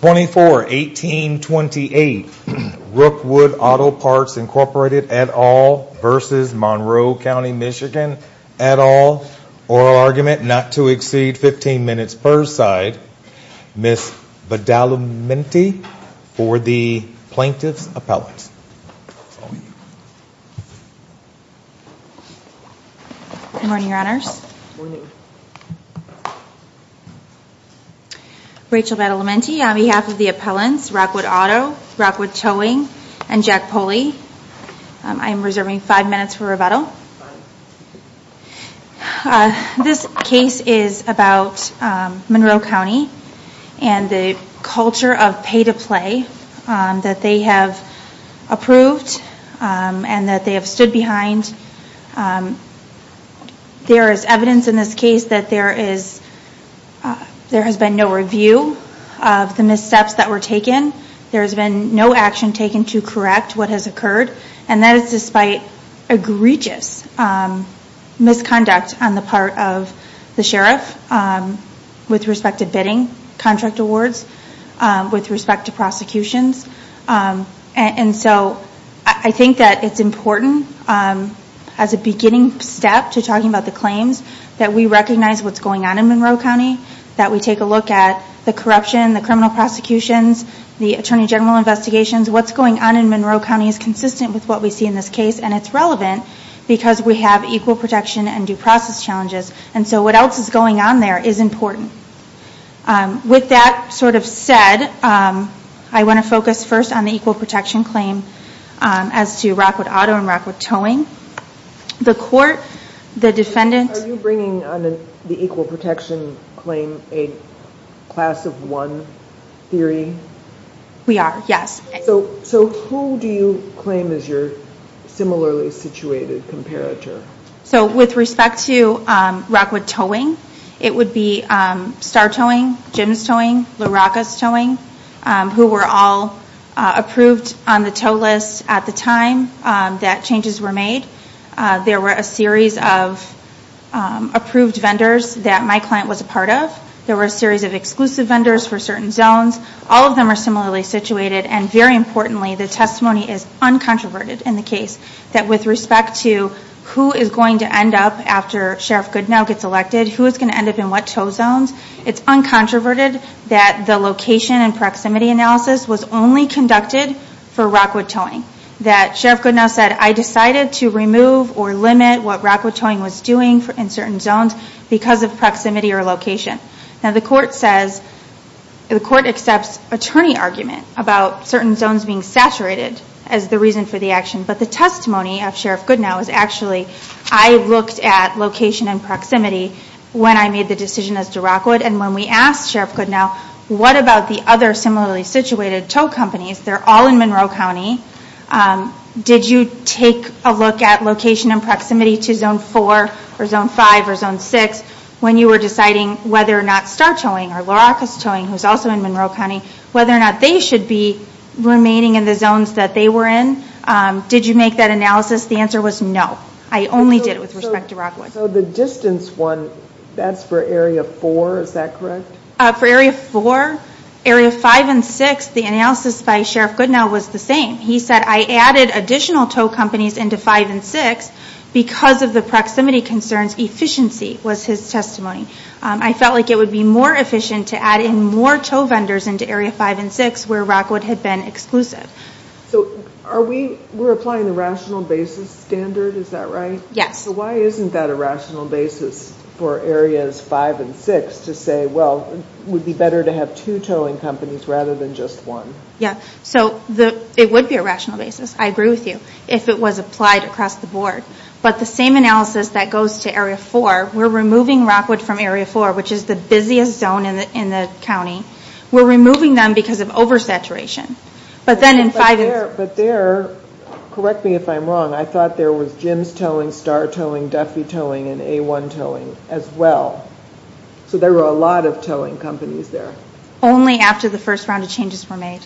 24-18-28 Rookwood Auto Parts, Inc. et al. v. Monroe County, MI et al. Oral Argument Not to Exceed 15 Minutes Per Side Ms. Badalamenti for the Plaintiff's Appellate Good morning, Your Honors Good morning Rachel Badalamenti on behalf of the appellants, Rockwood Auto, Rockwood Towing, and Jack Poley I am reserving five minutes for rebuttal This case is about Monroe County and the culture of pay to play that they have approved and that they have stood behind There is evidence in this case that there has been no review of the missteps that were taken There has been no action taken to correct what has occurred And that is despite egregious misconduct on the part of the Sheriff with respect to bidding contract awards, with respect to prosecutions And so I think that it is important as a beginning step to talking about the claims that we recognize what is going on in Monroe County That we take a look at the corruption, the criminal prosecutions, the Attorney General investigations What is going on in Monroe County is consistent with what we see in this case and it is relevant because we have equal protection and due process challenges And so what else is going on there is important With that sort of said, I want to focus first on the equal protection claim as to Rockwood Auto and Rockwood Towing The court, the defendant Are you bringing on the equal protection claim a class of one theory? We are, yes So who do you claim is your similarly situated comparator? So with respect to Rockwood Towing, it would be Star Towing, Jim's Towing, LaRocca's Towing Who were all approved on the tow list at the time that changes were made There were a series of approved vendors that my client was a part of There were a series of exclusive vendors for certain zones All of them are similarly situated and very importantly the testimony is uncontroverted in the case That with respect to who is going to end up after Sheriff Goodenow gets elected Who is going to end up in what tow zones It's uncontroverted that the location and proximity analysis was only conducted for Rockwood Towing That Sheriff Goodenow said I decided to remove or limit what Rockwood Towing was doing in certain zones Because of proximity or location Now the court says, the court accepts attorney argument about certain zones being saturated as the reason for the action But the testimony of Sheriff Goodenow is actually, I looked at location and proximity when I made the decision as to Rockwood And when we asked Sheriff Goodenow, what about the other similarly situated tow companies They're all in Monroe County Did you take a look at location and proximity to Zone 4 or Zone 5 or Zone 6 When you were deciding whether or not Star Towing or LaRocca's Towing, who's also in Monroe County Whether or not they should be remaining in the zones that they were in Did you make that analysis, the answer was no I only did it with respect to Rockwood So the distance one, that's for Area 4, is that correct? For Area 4, Area 5 and 6, the analysis by Sheriff Goodenow was the same He said I added additional tow companies into Area 5 and 6 Because of the proximity concerns, efficiency was his testimony I felt like it would be more efficient to add in more tow vendors into Area 5 and 6 where Rockwood had been exclusive So we're applying the rational basis standard, is that right? Yes So why isn't that a rational basis for Areas 5 and 6 to say Well, it would be better to have two towing companies rather than just one Yeah, so it would be a rational basis, I agree with you, if it was applied across the board But the same analysis that goes to Area 4, we're removing Rockwood from Area 4 Which is the busiest zone in the county We're removing them because of oversaturation But there, correct me if I'm wrong, I thought there was Jim's Towing, Star Towing, Duffy Towing and A1 Towing as well So there were a lot of towing companies there Only after the first round of changes were made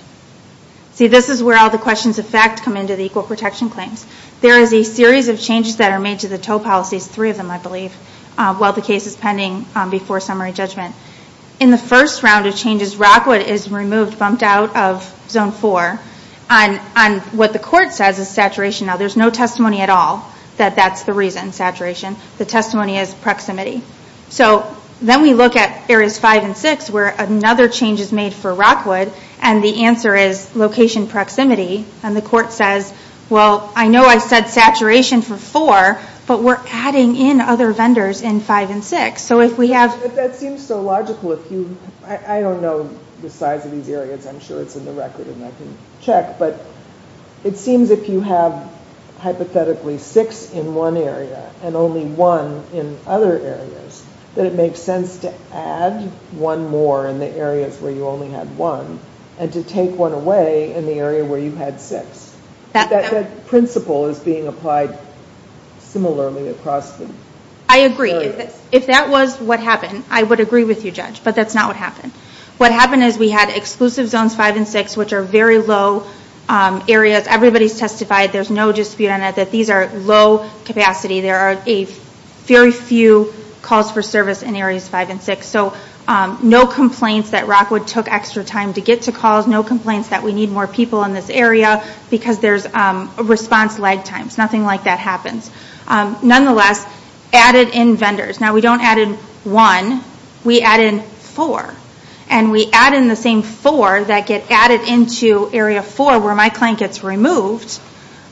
See, this is where all the questions of fact come into the Equal Protection Claims There is a series of changes that are made to the tow policies, three of them I believe While the case is pending before summary judgment In the first round of changes, Rockwood is removed, bumped out of Zone 4 On what the court says is saturation Now there's no testimony at all that that's the reason, saturation The testimony is proximity So then we look at Areas 5 and 6 where another change is made for Rockwood And the answer is location proximity And the court says, well, I know I said saturation for 4 But we're adding in other vendors in 5 and 6 But that seems so logical I don't know the size of these areas, I'm sure it's in the record and I can check But it seems if you have hypothetically 6 in one area And only 1 in other areas That it makes sense to add 1 more in the areas where you only had 1 And to take 1 away in the area where you had 6 That principle is being applied similarly across the areas I agree, if that was what happened, I would agree with you Judge But that's not what happened What happened is we had exclusive Zones 5 and 6 which are very low areas Everybody's testified, there's no dispute on it, that these are low capacity There are very few calls for service in Areas 5 and 6 So no complaints that Rockwood took extra time to get to calls No complaints that we need more people in this area Because there's response lag times, nothing like that happens Nonetheless, added in vendors Now we don't add in 1, we add in 4 And we add in the same 4 that get added into Area 4 where my client gets removed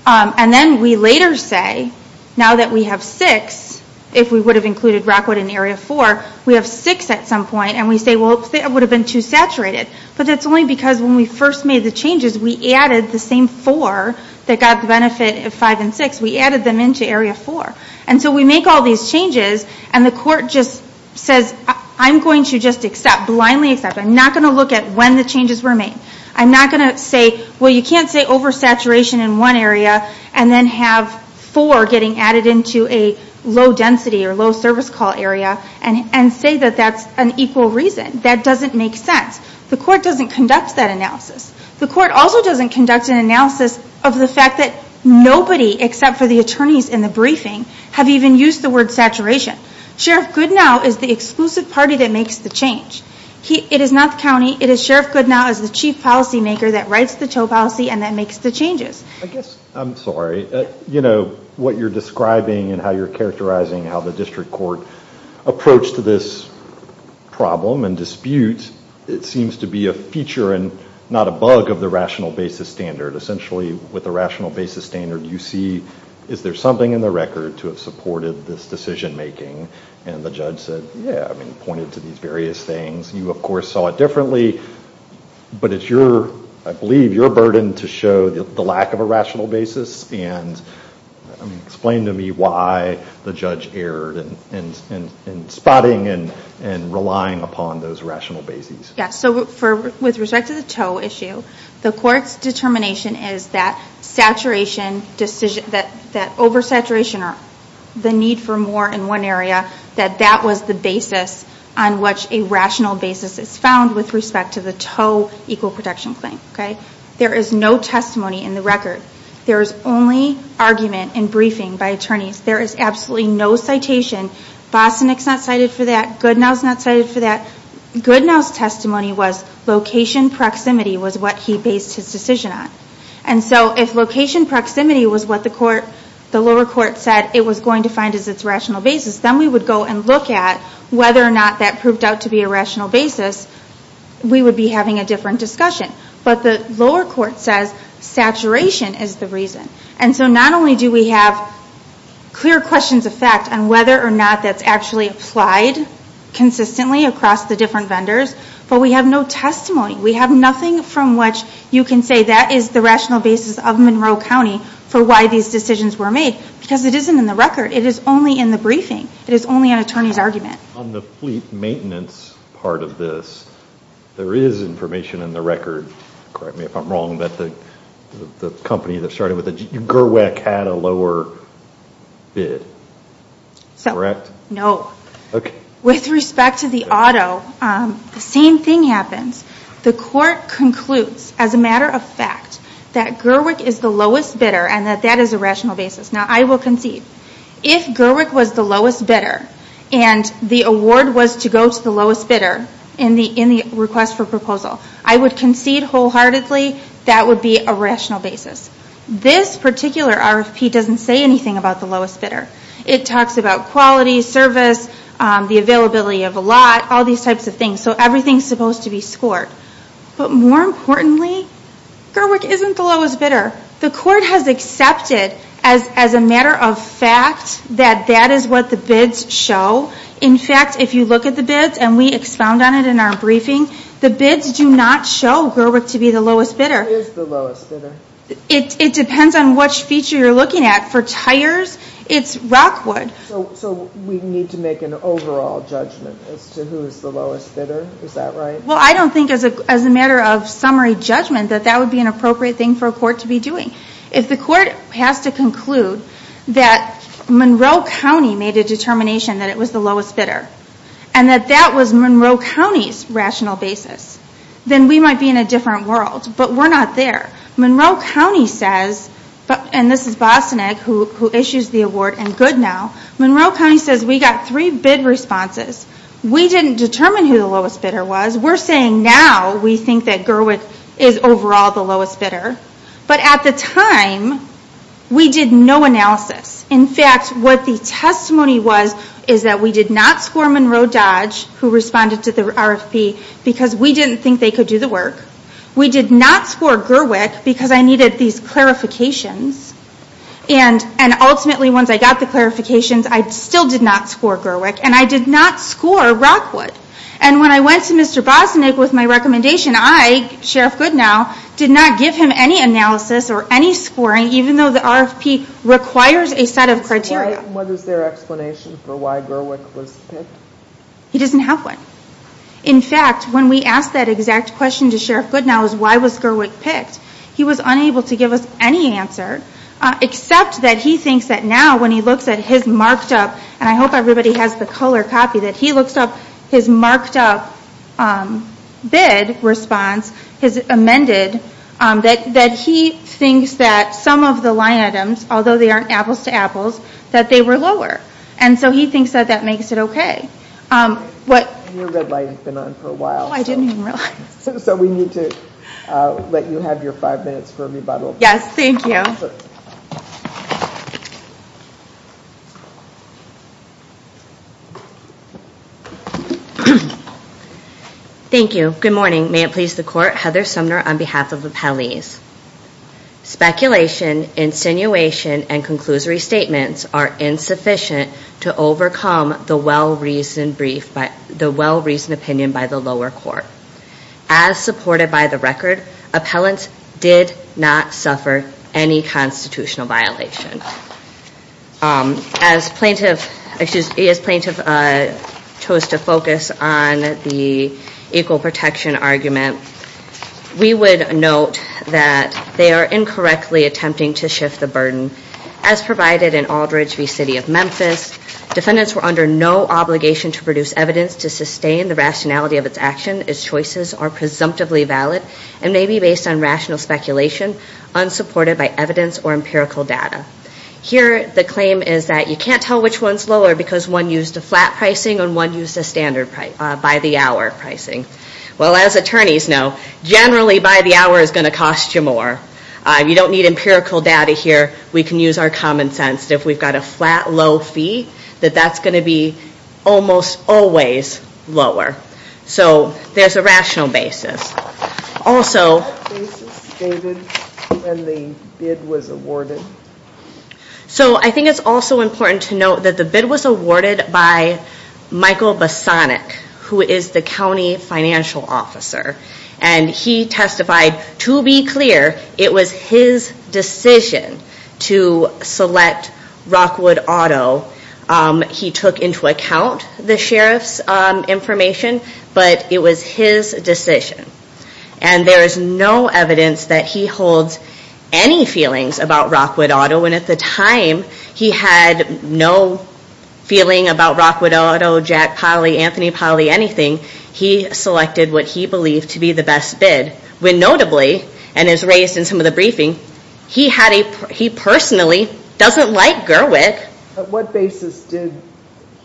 And then we later say, now that we have 6 If we would have included Rockwood in Area 4 We have 6 at some point and we say it would have been too saturated But that's only because when we first made the changes We added the same 4 that got the benefit of 5 and 6 We added them into Area 4 And so we make all these changes and the court just says I'm going to just accept, blindly accept I'm not going to look at when the changes were made I'm not going to say, well you can't say oversaturation in one area And then have 4 getting added into a low density or low service call area And say that that's an equal reason That doesn't make sense The court doesn't conduct that analysis The court also doesn't conduct an analysis of the fact that Nobody except for the attorneys in the briefing Have even used the word saturation Sheriff Goodenow is the exclusive party that makes the change It is not the county, it is Sheriff Goodenow as the chief policy maker That writes the tow policy and that makes the changes I guess, I'm sorry You know, what you're describing and how you're characterizing How the district court approached this problem and dispute It seems to be a feature and not a bug of the rational basis standard Essentially, with the rational basis standard You see, is there something in the record to have supported this decision making And the judge said, yeah, I mean pointed to these various things You of course saw it differently But it's your, I believe, your burden to show the lack of a rational basis And explain to me why the judge erred In spotting and relying upon those rational basis Yeah, so with respect to the tow issue The court's determination is that saturation decision That oversaturation or the need for more in one area That that was the basis on which a rational basis is found With respect to the tow equal protection claim, okay There is no testimony in the record There is only argument in briefing by attorneys There is absolutely no citation Vossenick's not cited for that, Goodenow's not cited for that Goodenow's testimony was location proximity was what he based his decision on And so if location proximity was what the lower court said It was going to find as its rational basis Then we would go and look at whether or not that proved out to be a rational basis We would be having a different discussion But the lower court says saturation is the reason And so not only do we have clear questions of fact On whether or not that's actually applied consistently across the different vendors But we have no testimony We have nothing from which you can say that is the rational basis of Monroe County For why these decisions were made Because it isn't in the record, it is only in the briefing It is only an attorney's argument On the fleet maintenance part of this There is information in the record Correct me if I'm wrong But the company that started with it, Gerwick had a lower bid Correct? With respect to the auto The same thing happens The court concludes as a matter of fact That Gerwick is the lowest bidder And that that is a rational basis Now I will concede If Gerwick was the lowest bidder And the award was to go to the lowest bidder In the request for proposal I would concede wholeheartedly That would be a rational basis This particular RFP doesn't say anything about the lowest bidder It talks about quality, service The availability of a lot All these types of things So everything is supposed to be scored But more importantly Gerwick isn't the lowest bidder The court has accepted As a matter of fact That that is what the bids show In fact, if you look at the bids And we expound on it in our briefing The bids do not show Gerwick to be the lowest bidder Who is the lowest bidder? It depends on which feature you're looking at For tires, it's Rockwood So we need to make an overall judgment As to who is the lowest bidder Is that right? Well, I don't think as a matter of summary judgment That that would be an appropriate thing for a court to be doing If the court has to conclude That Monroe County made a determination That it was the lowest bidder And that that was Monroe County's rational basis Then we might be in a different world But we're not there Monroe County says And this is Bostoneg Who issues the award and Goodnow Monroe County says we got three bid responses We didn't determine who the lowest bidder was We're saying now we think that Gerwick Is overall the lowest bidder But at the time We did no analysis In fact, what the testimony was Is that we did not score Monroe Dodge Who responded to the RFP Because we didn't think they could do the work We did not score Gerwick Because I needed these clarifications And ultimately once I got the clarifications I still did not score Gerwick And I did not score Rockwood And when I went to Mr. Bostoneg with my recommendation I, Sheriff Goodnow Did not give him any analysis or any scoring Even though the RFP requires a set of criteria And what is their explanation for why Gerwick was picked? He doesn't have one In fact, when we asked that exact question to Sheriff Goodnow Why was Gerwick picked? He was unable to give us any answer Except that he thinks that now When he looks at his marked up And I hope everybody has the color copy That he looks up his marked up Bid response His amended That he thinks that some of the line items Although they aren't apples to apples That they were lower And so he thinks that makes it okay Your red light has been on for a while Oh, I didn't even realize So we need to let you have your five minutes for rebuttal Yes, thank you Thank you. Good morning May it please the court Heather Sumner on behalf of Appellees Speculation, insinuation and conclusory statements Are insufficient to overcome The well-reasoned brief The well-reasoned opinion by the lower court As supported by the record Appellants did not suffer Any constitutional violation As plaintiff As plaintiff Chose to focus on the Equal protection argument We would note that They are incorrectly attempting to shift the burden As provided in Aldridge v. City of Memphis Defendants were under no obligation to produce evidence To sustain the rationality of its action Its choices are presumptively valid And may be based on rational speculation Unsupported by evidence or empirical data Here the claim is that You can't tell which one's lower Because one used a flat pricing And one used a standard by the hour pricing Well as attorneys know Generally by the hour is going to cost you more You don't need empirical data here We can use our common sense If we've got a flat low fee That that's going to be Almost always lower So there's a rational basis Also What basis, David, when the bid was awarded? So I think it's also important to note That the bid was awarded by Michael Bosonic Who is the county financial officer And he testified To be clear It was his decision To select Rockwood Auto He took into account The sheriff's information But it was his decision And there is no evidence That he holds any feelings About Rockwood Auto And at the time He had no feeling about Rockwood Auto, Jack Polly, Anthony Polly Anything He selected what he believed To be the best bid When notably And as raised in some of the briefing He personally doesn't like Gerwick What basis did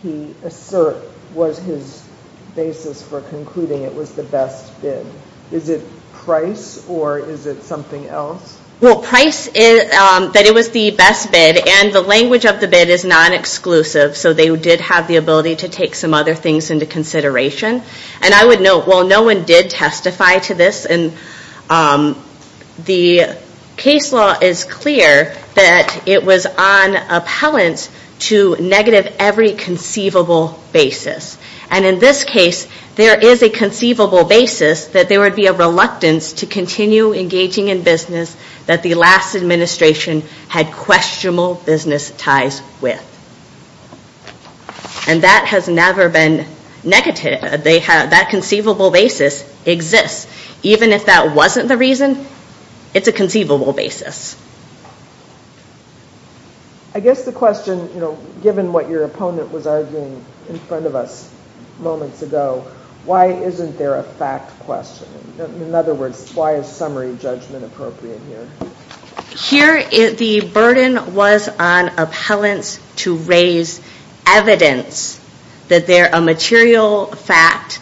he assert Was his basis for concluding It was the best bid? Is it price? Or is it something else? Well price That it was the best bid And the language of the bid Is non-exclusive So they did have the ability To take some other things Into consideration And I would note Well no one did testify to this And the case law is clear That it was on appellant To negative every conceivable basis And in this case There is a conceivable basis That there would be a reluctance To continue engaging in business That the last administration Had questionable business ties with And that has never been negative That conceivable basis exists Even if that wasn't the reason It's a conceivable basis I guess the question Given what your opponent was arguing In front of us moments ago Why isn't there a fact question? In other words Why is summary judgment appropriate here? Here the burden was on appellants To raise evidence That they're a material fact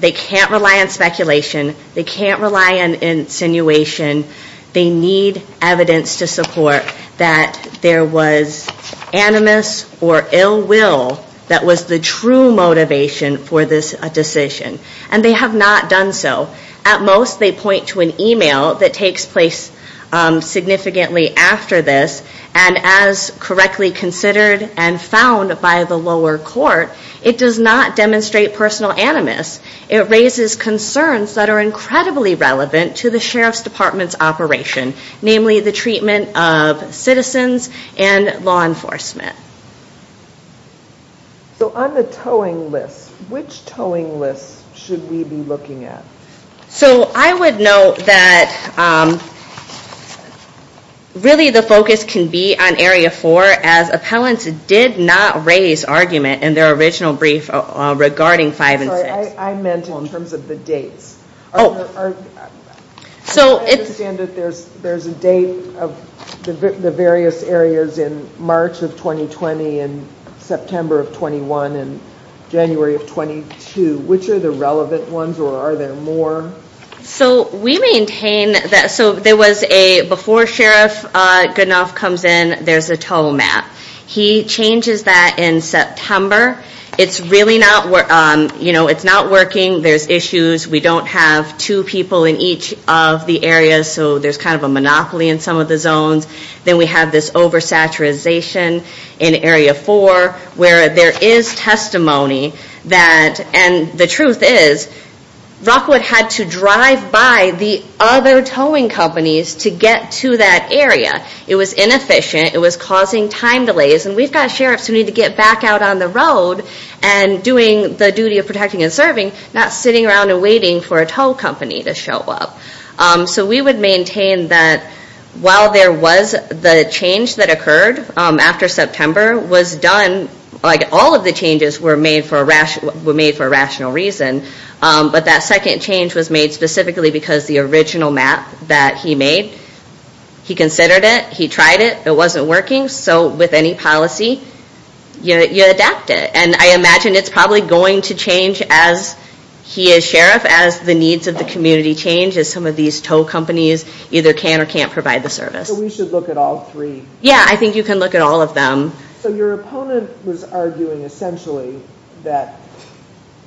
They can't rely on speculation They can't rely on insinuation They need evidence to support That there was animus or ill will That was the true motivation For this decision And they have not done so At most they point to an email That takes place significantly after this And as correctly considered And found by the lower court It does not demonstrate personal animus It raises concerns That are incredibly relevant To the sheriff's department's operation Namely the treatment of citizens And law enforcement So on the towing list Which towing list should we be looking at? So I would note that Really the focus can be on area 4 As appellants did not raise argument In their original brief Regarding 5 and 6 I meant in terms of the dates Oh I understand that there's a date Of the various areas In March of 2020 And September of 21 And January of 22 Which are the relevant ones Or are there more? So we maintain that So there was a Before Sheriff Goodenough comes in There's a tow map He changes that in September It's really not You know it's not working There's issues We don't have two people in each of the areas So there's kind of a monopoly In some of the zones Then we have this oversaturation In area 4 Where there is testimony That And the truth is Rockwood had to drive by The other towing companies To get to that area It was inefficient It was causing time delays And we've got sheriffs Who need to get back out on the road And doing the duty of protecting and serving Not sitting around and waiting For a tow company to show up So we would maintain that While there was the change that occurred After September Was done Like all of the changes Were made for a rational reason But that second change Was made specifically Because the original map That he made He considered it He tried it It wasn't working So with any policy You adapt it And I imagine It's probably going to change As he as sheriff As the needs of the community change As some of these tow companies Either can or can't provide the service So we should look at all three Yeah I think you can look at all of them So your opponent was arguing essentially That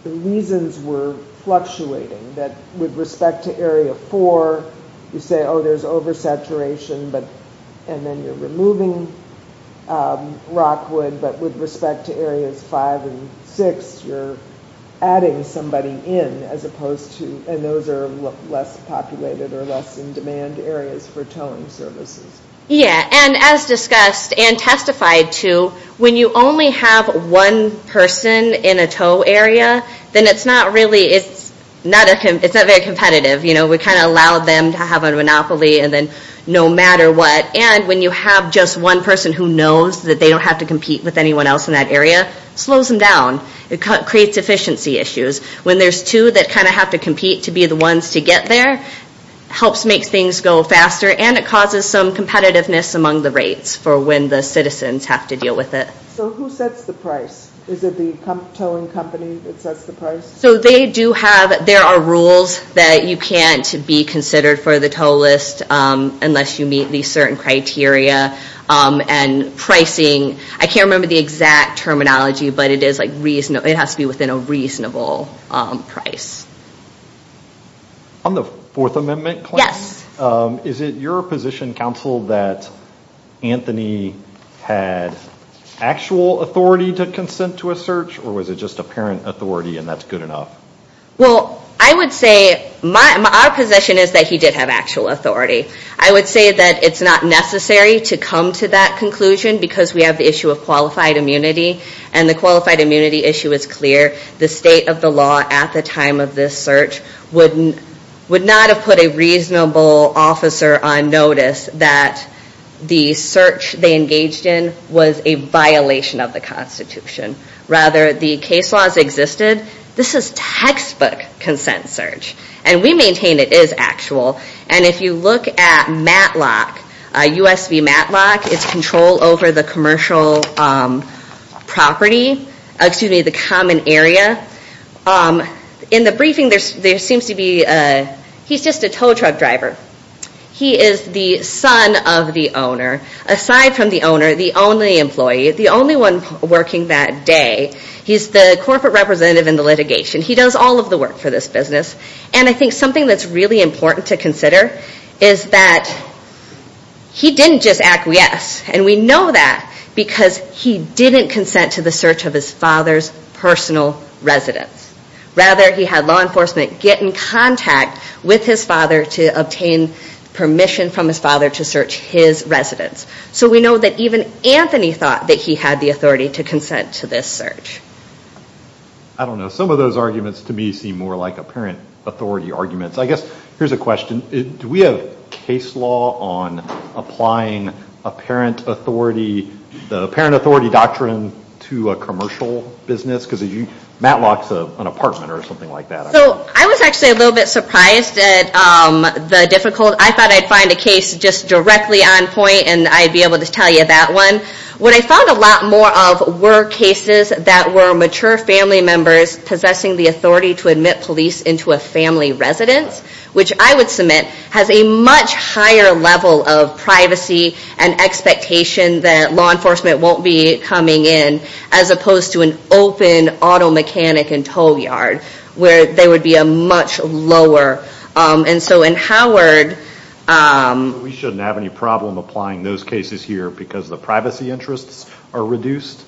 the reasons were fluctuating That with respect to area four You say oh there's oversaturation And then you're removing rockwood But with respect to areas five and six You're adding somebody in As opposed to And those are less populated Or less in demand areas For towing services Yeah and as discussed And testified to When you only have one person In a tow area Then it's not really It's not very competitive We kind of allow them To have a monopoly And then no matter what And when you have just one person Who knows that they don't have to compete With anyone else in that area Slows them down It creates efficiency issues When there's two That kind of have to compete To be the ones to get there Helps make things go faster And it causes some competitiveness Among the rates For when the citizens Have to deal with it So who sets the price? Is it the towing company That sets the price? So they do have There are rules That you can't be considered For the tow list Unless you meet These certain criteria And pricing I can't remember The exact terminology But it is like It has to be within A reasonable price On the fourth amendment claim Yes Is it your position council That Anthony had Actual authority To consent to a search Or was it just Apparent authority And that's good enough? Well I would say Our position is That he did have Actual authority I would say That it's not necessary To come to that conclusion Because we have the issue Of qualified immunity And the qualified immunity issue Is clear The state of the law At the time of this search Would not have put A reasonable officer On notice That the search They engaged in Was a violation Of the constitution Rather the case laws existed This is textbook Consent search And we maintain It is actual And if you look at Matlock USV Matlock It's control over The commercial property Excuse me The common area In the briefing There seems to be He's just a tow truck driver He is the son Of the owner Aside from the owner The only employee The only one Working that day He's the corporate representative In the litigation He does all of the work For this business And I think something That's really important To consider Is that He didn't just acquiesce And we know that Because he didn't consent To the search Of his father's Personal residence Rather he had Law enforcement Get in contact With his father To obtain Permission from his father To search his residence So we know that Even Anthony thought That he had the authority To consent to this search I don't know Some of those arguments To me seem more like Apparent authority arguments I guess Here's a question Do we have case law On applying Apparent authority The apparent authority doctrine To a commercial business Because Matlock's an apartment Or something like that So I was actually A little bit surprised At the difficult I thought I'd find a case Just directly on point And I'd be able To tell you that one What I found a lot more of Were cases That were mature family members Possessing the authority To admit police Into a family residence Which I would submit Has a much higher level Of privacy And expectation That law enforcement Won't be coming in As opposed to an open Auto mechanic and tow yard Where there would be A much lower And so in Howard We shouldn't have any problem Applying those cases here Because the privacy interests Are reduced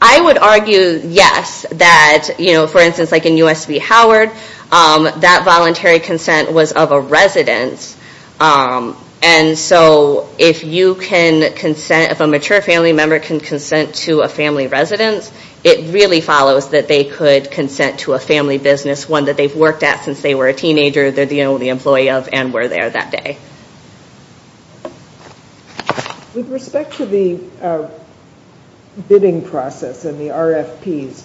I would argue Yes That you know For instance Like in USV Howard That voluntary consent Was of a residence And so If you can Consent If a mature family member Can consent to A family residence It really follows That they could Consent to a family business One that they've worked at Since they were a teenager They're the only employee of And were there that day With respect to the Bidding process And the RFPs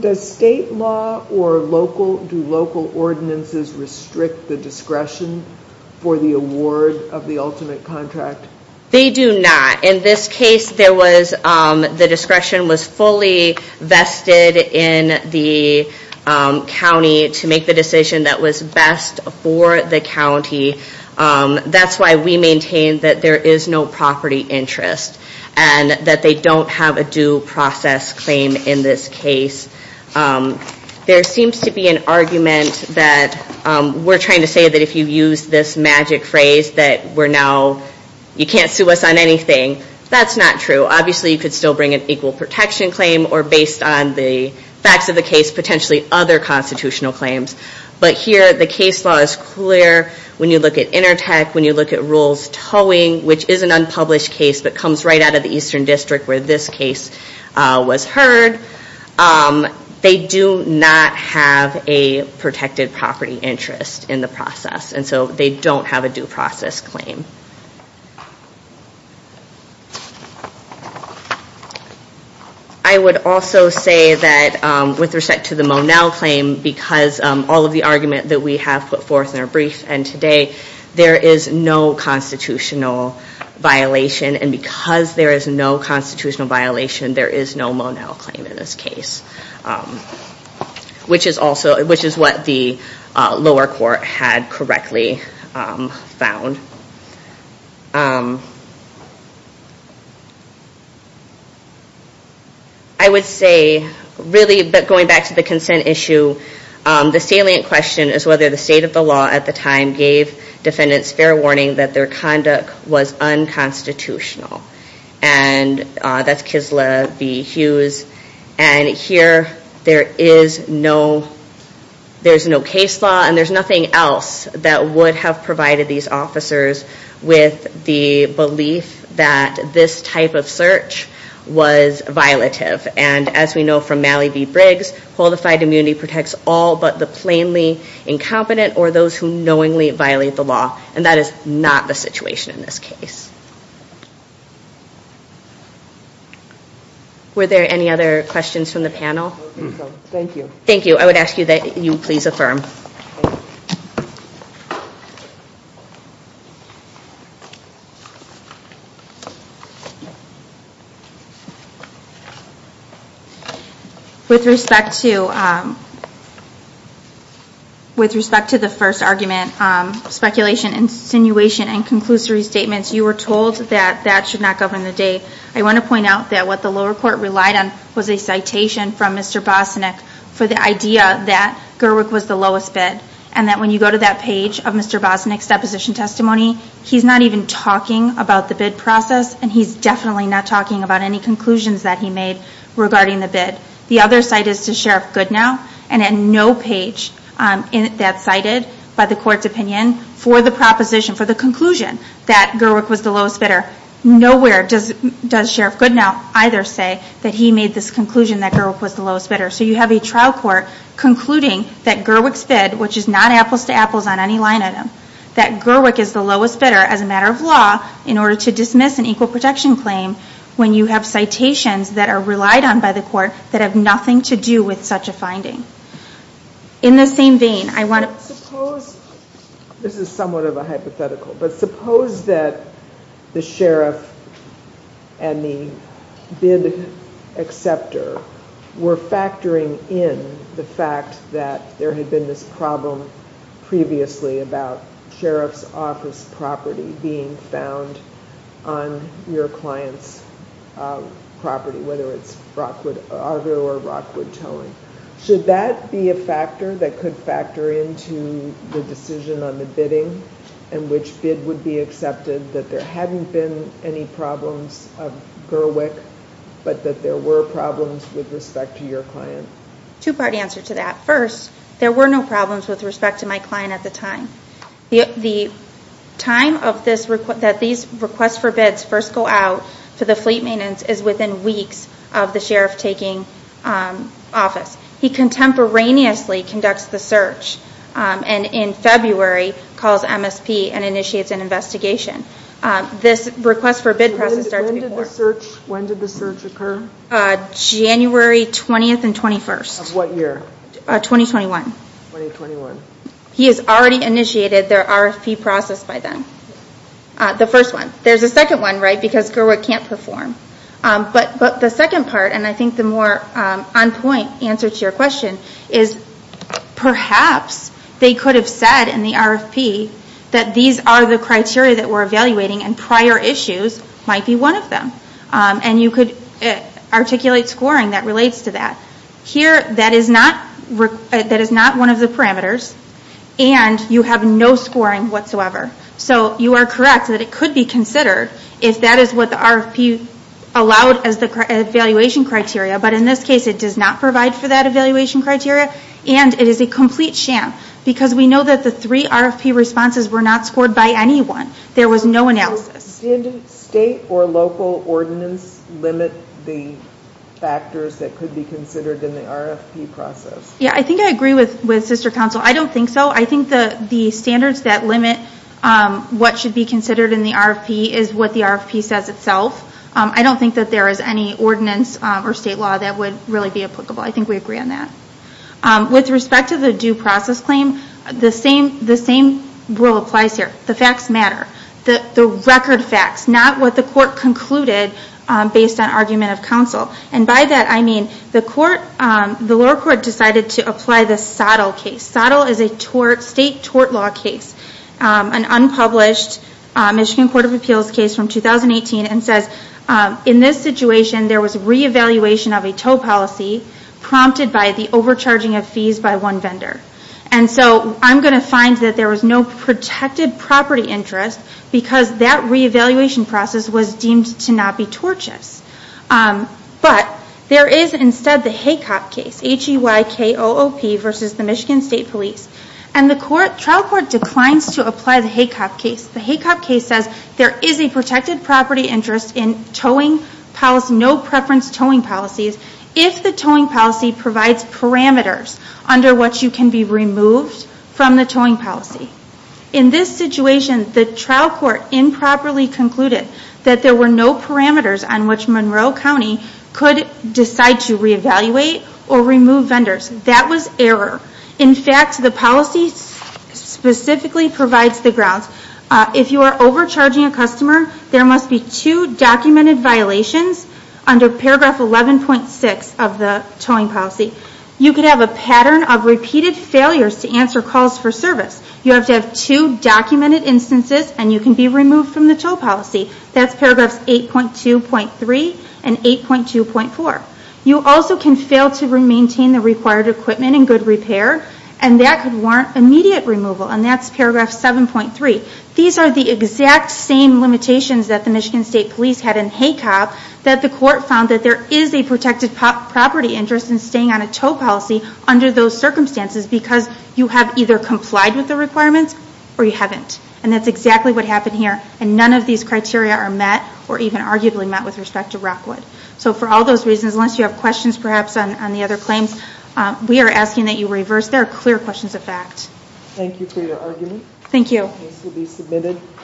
Does state law Or local Do local ordinances Restrict the discretion For the award Of the ultimate contract They do not In this case There was The discretion was Fully vested In the County To make the decision That was best For the county That's why we maintain That there is no Property interest And that they don't Have a due process Claim in this case There seems to be An argument That We're trying to say That if you use This magic phrase That we're now You can't sue us On anything That's not true Obviously you could still Bring an equal protection Claim Or based on the Facts of the case Potentially other Constitutional claims But here The case law Is clear When you look at Intertech When you look at Rules towing Which is an unpublished Case that comes Right out of the Eastern District Where this case Was heard They do not have A protected Property interest In the process And so they don't Have a due process Claim I would also Say that With respect To the Monell Claim Because all of the Argument that we Have put forth In our brief And today There is no Constitutional Violation And because there Is no Constitutional Violation There is no Monell claim In this case Which is also Which is what the Lower court Had correctly Found I would say Really Going back To the consent Issue The salient Question is Whether the State of the Law at the Time Gave defendants Fair warning That their Conduct was Unconstitutional And that's Kislev B. And here There is No There is no Case law And there is Nothing else That would have Provided these Officers With the Belief That this Type of Search Was Violative And as we Know from Mally B. Briggs Qualified immunity Protects all But the Plainly Incompetent Or those Who knowingly Violate the Law And that Is not The situation In this Case Were there Any other Questions from The panel Thank you Thank you I would ask That you Please affirm With respect To um With respect To the First argument Um Speculation Insinuation And conclusory Statements You were told That that Should not Govern the Day I want to Point out That what the Lower court Relied on Was a Proposition From Mr. Bosnick For the Idea that Gerwig was The lowest bid And when you Go to that Page of Mr. Bosnick's Testimony He's not Even talking About the Bid process And he's Definitely not Talking about Any conclusions That he made Regarding the Bid The other Side is to Sheriff Goodenough Either say That he made This conclusion That Gerwig was The lowest bidder So you have A trial Court concluding That Gerwig's bid Which is not Apples to apples On any line Item That Gerwig Is the lowest Bidder As a matter Of law In order to Dismiss An equal Protection Claim When you Have citations That are Relied on By the Sheriff And the Bid Acceptor Were factoring In the Fact that There had Been this Problem Previously About Sheriff's Office Property Being found On your Client's Property Whether it's Rockwood Argo or Rockwood Towing Should that Be a factor That could Factor into The decision On the Bidding And which Bid Would be Accepted That there Hadn't been Any problems Of Gerwig But that there Were problems With respect To your Client Two part Answer to That First There were No problems With respect To my Client At the Time The time Of this Request For Bid Fleet Maintenance Is within Weeks Of the Sheriff Taking Office He Contemporaneously Conducts The Search And in February Calls MSP And Initiates An Investigation This Request For Bid When Did the Search Occur January 20th And 21st Of what Year 2021 He Has Already Initiated The RFP Process By Them The First One There Is A Second One Because Gerwig Can't Score Them And You Can Articulate Scoring Here That Is Not One Of The Parameters And You Have No Scoring Whatsoever So You Can Consider That As RFP Allowed But In This Case It Does Not Provide For Evaluation Criteria And It Is A Complete Sham Because We Know That The Three RFP Responses Were Not Scored By Anyone There Was No Analysis In This It Does Not Provide And Is RFP Responses Were Not Scored By Was A Complete We No Analysis In This Criteria And A Complete Sham Because We Know That The Three RFP Responses Were Not Scored By Anyone There Was No Analysis In This Provide For Evaluation Criteria And It Is Know That The Three RFP Responses Were Not Scored By Anyone There Was No Analysis In This Criteria And It Is A Complete Sham Because We Know That The Three RFP Responses Were Not Scored By Anyone There Was Three RFP Responses Was No Analysis Know RFP Scored In This Criteria And Sham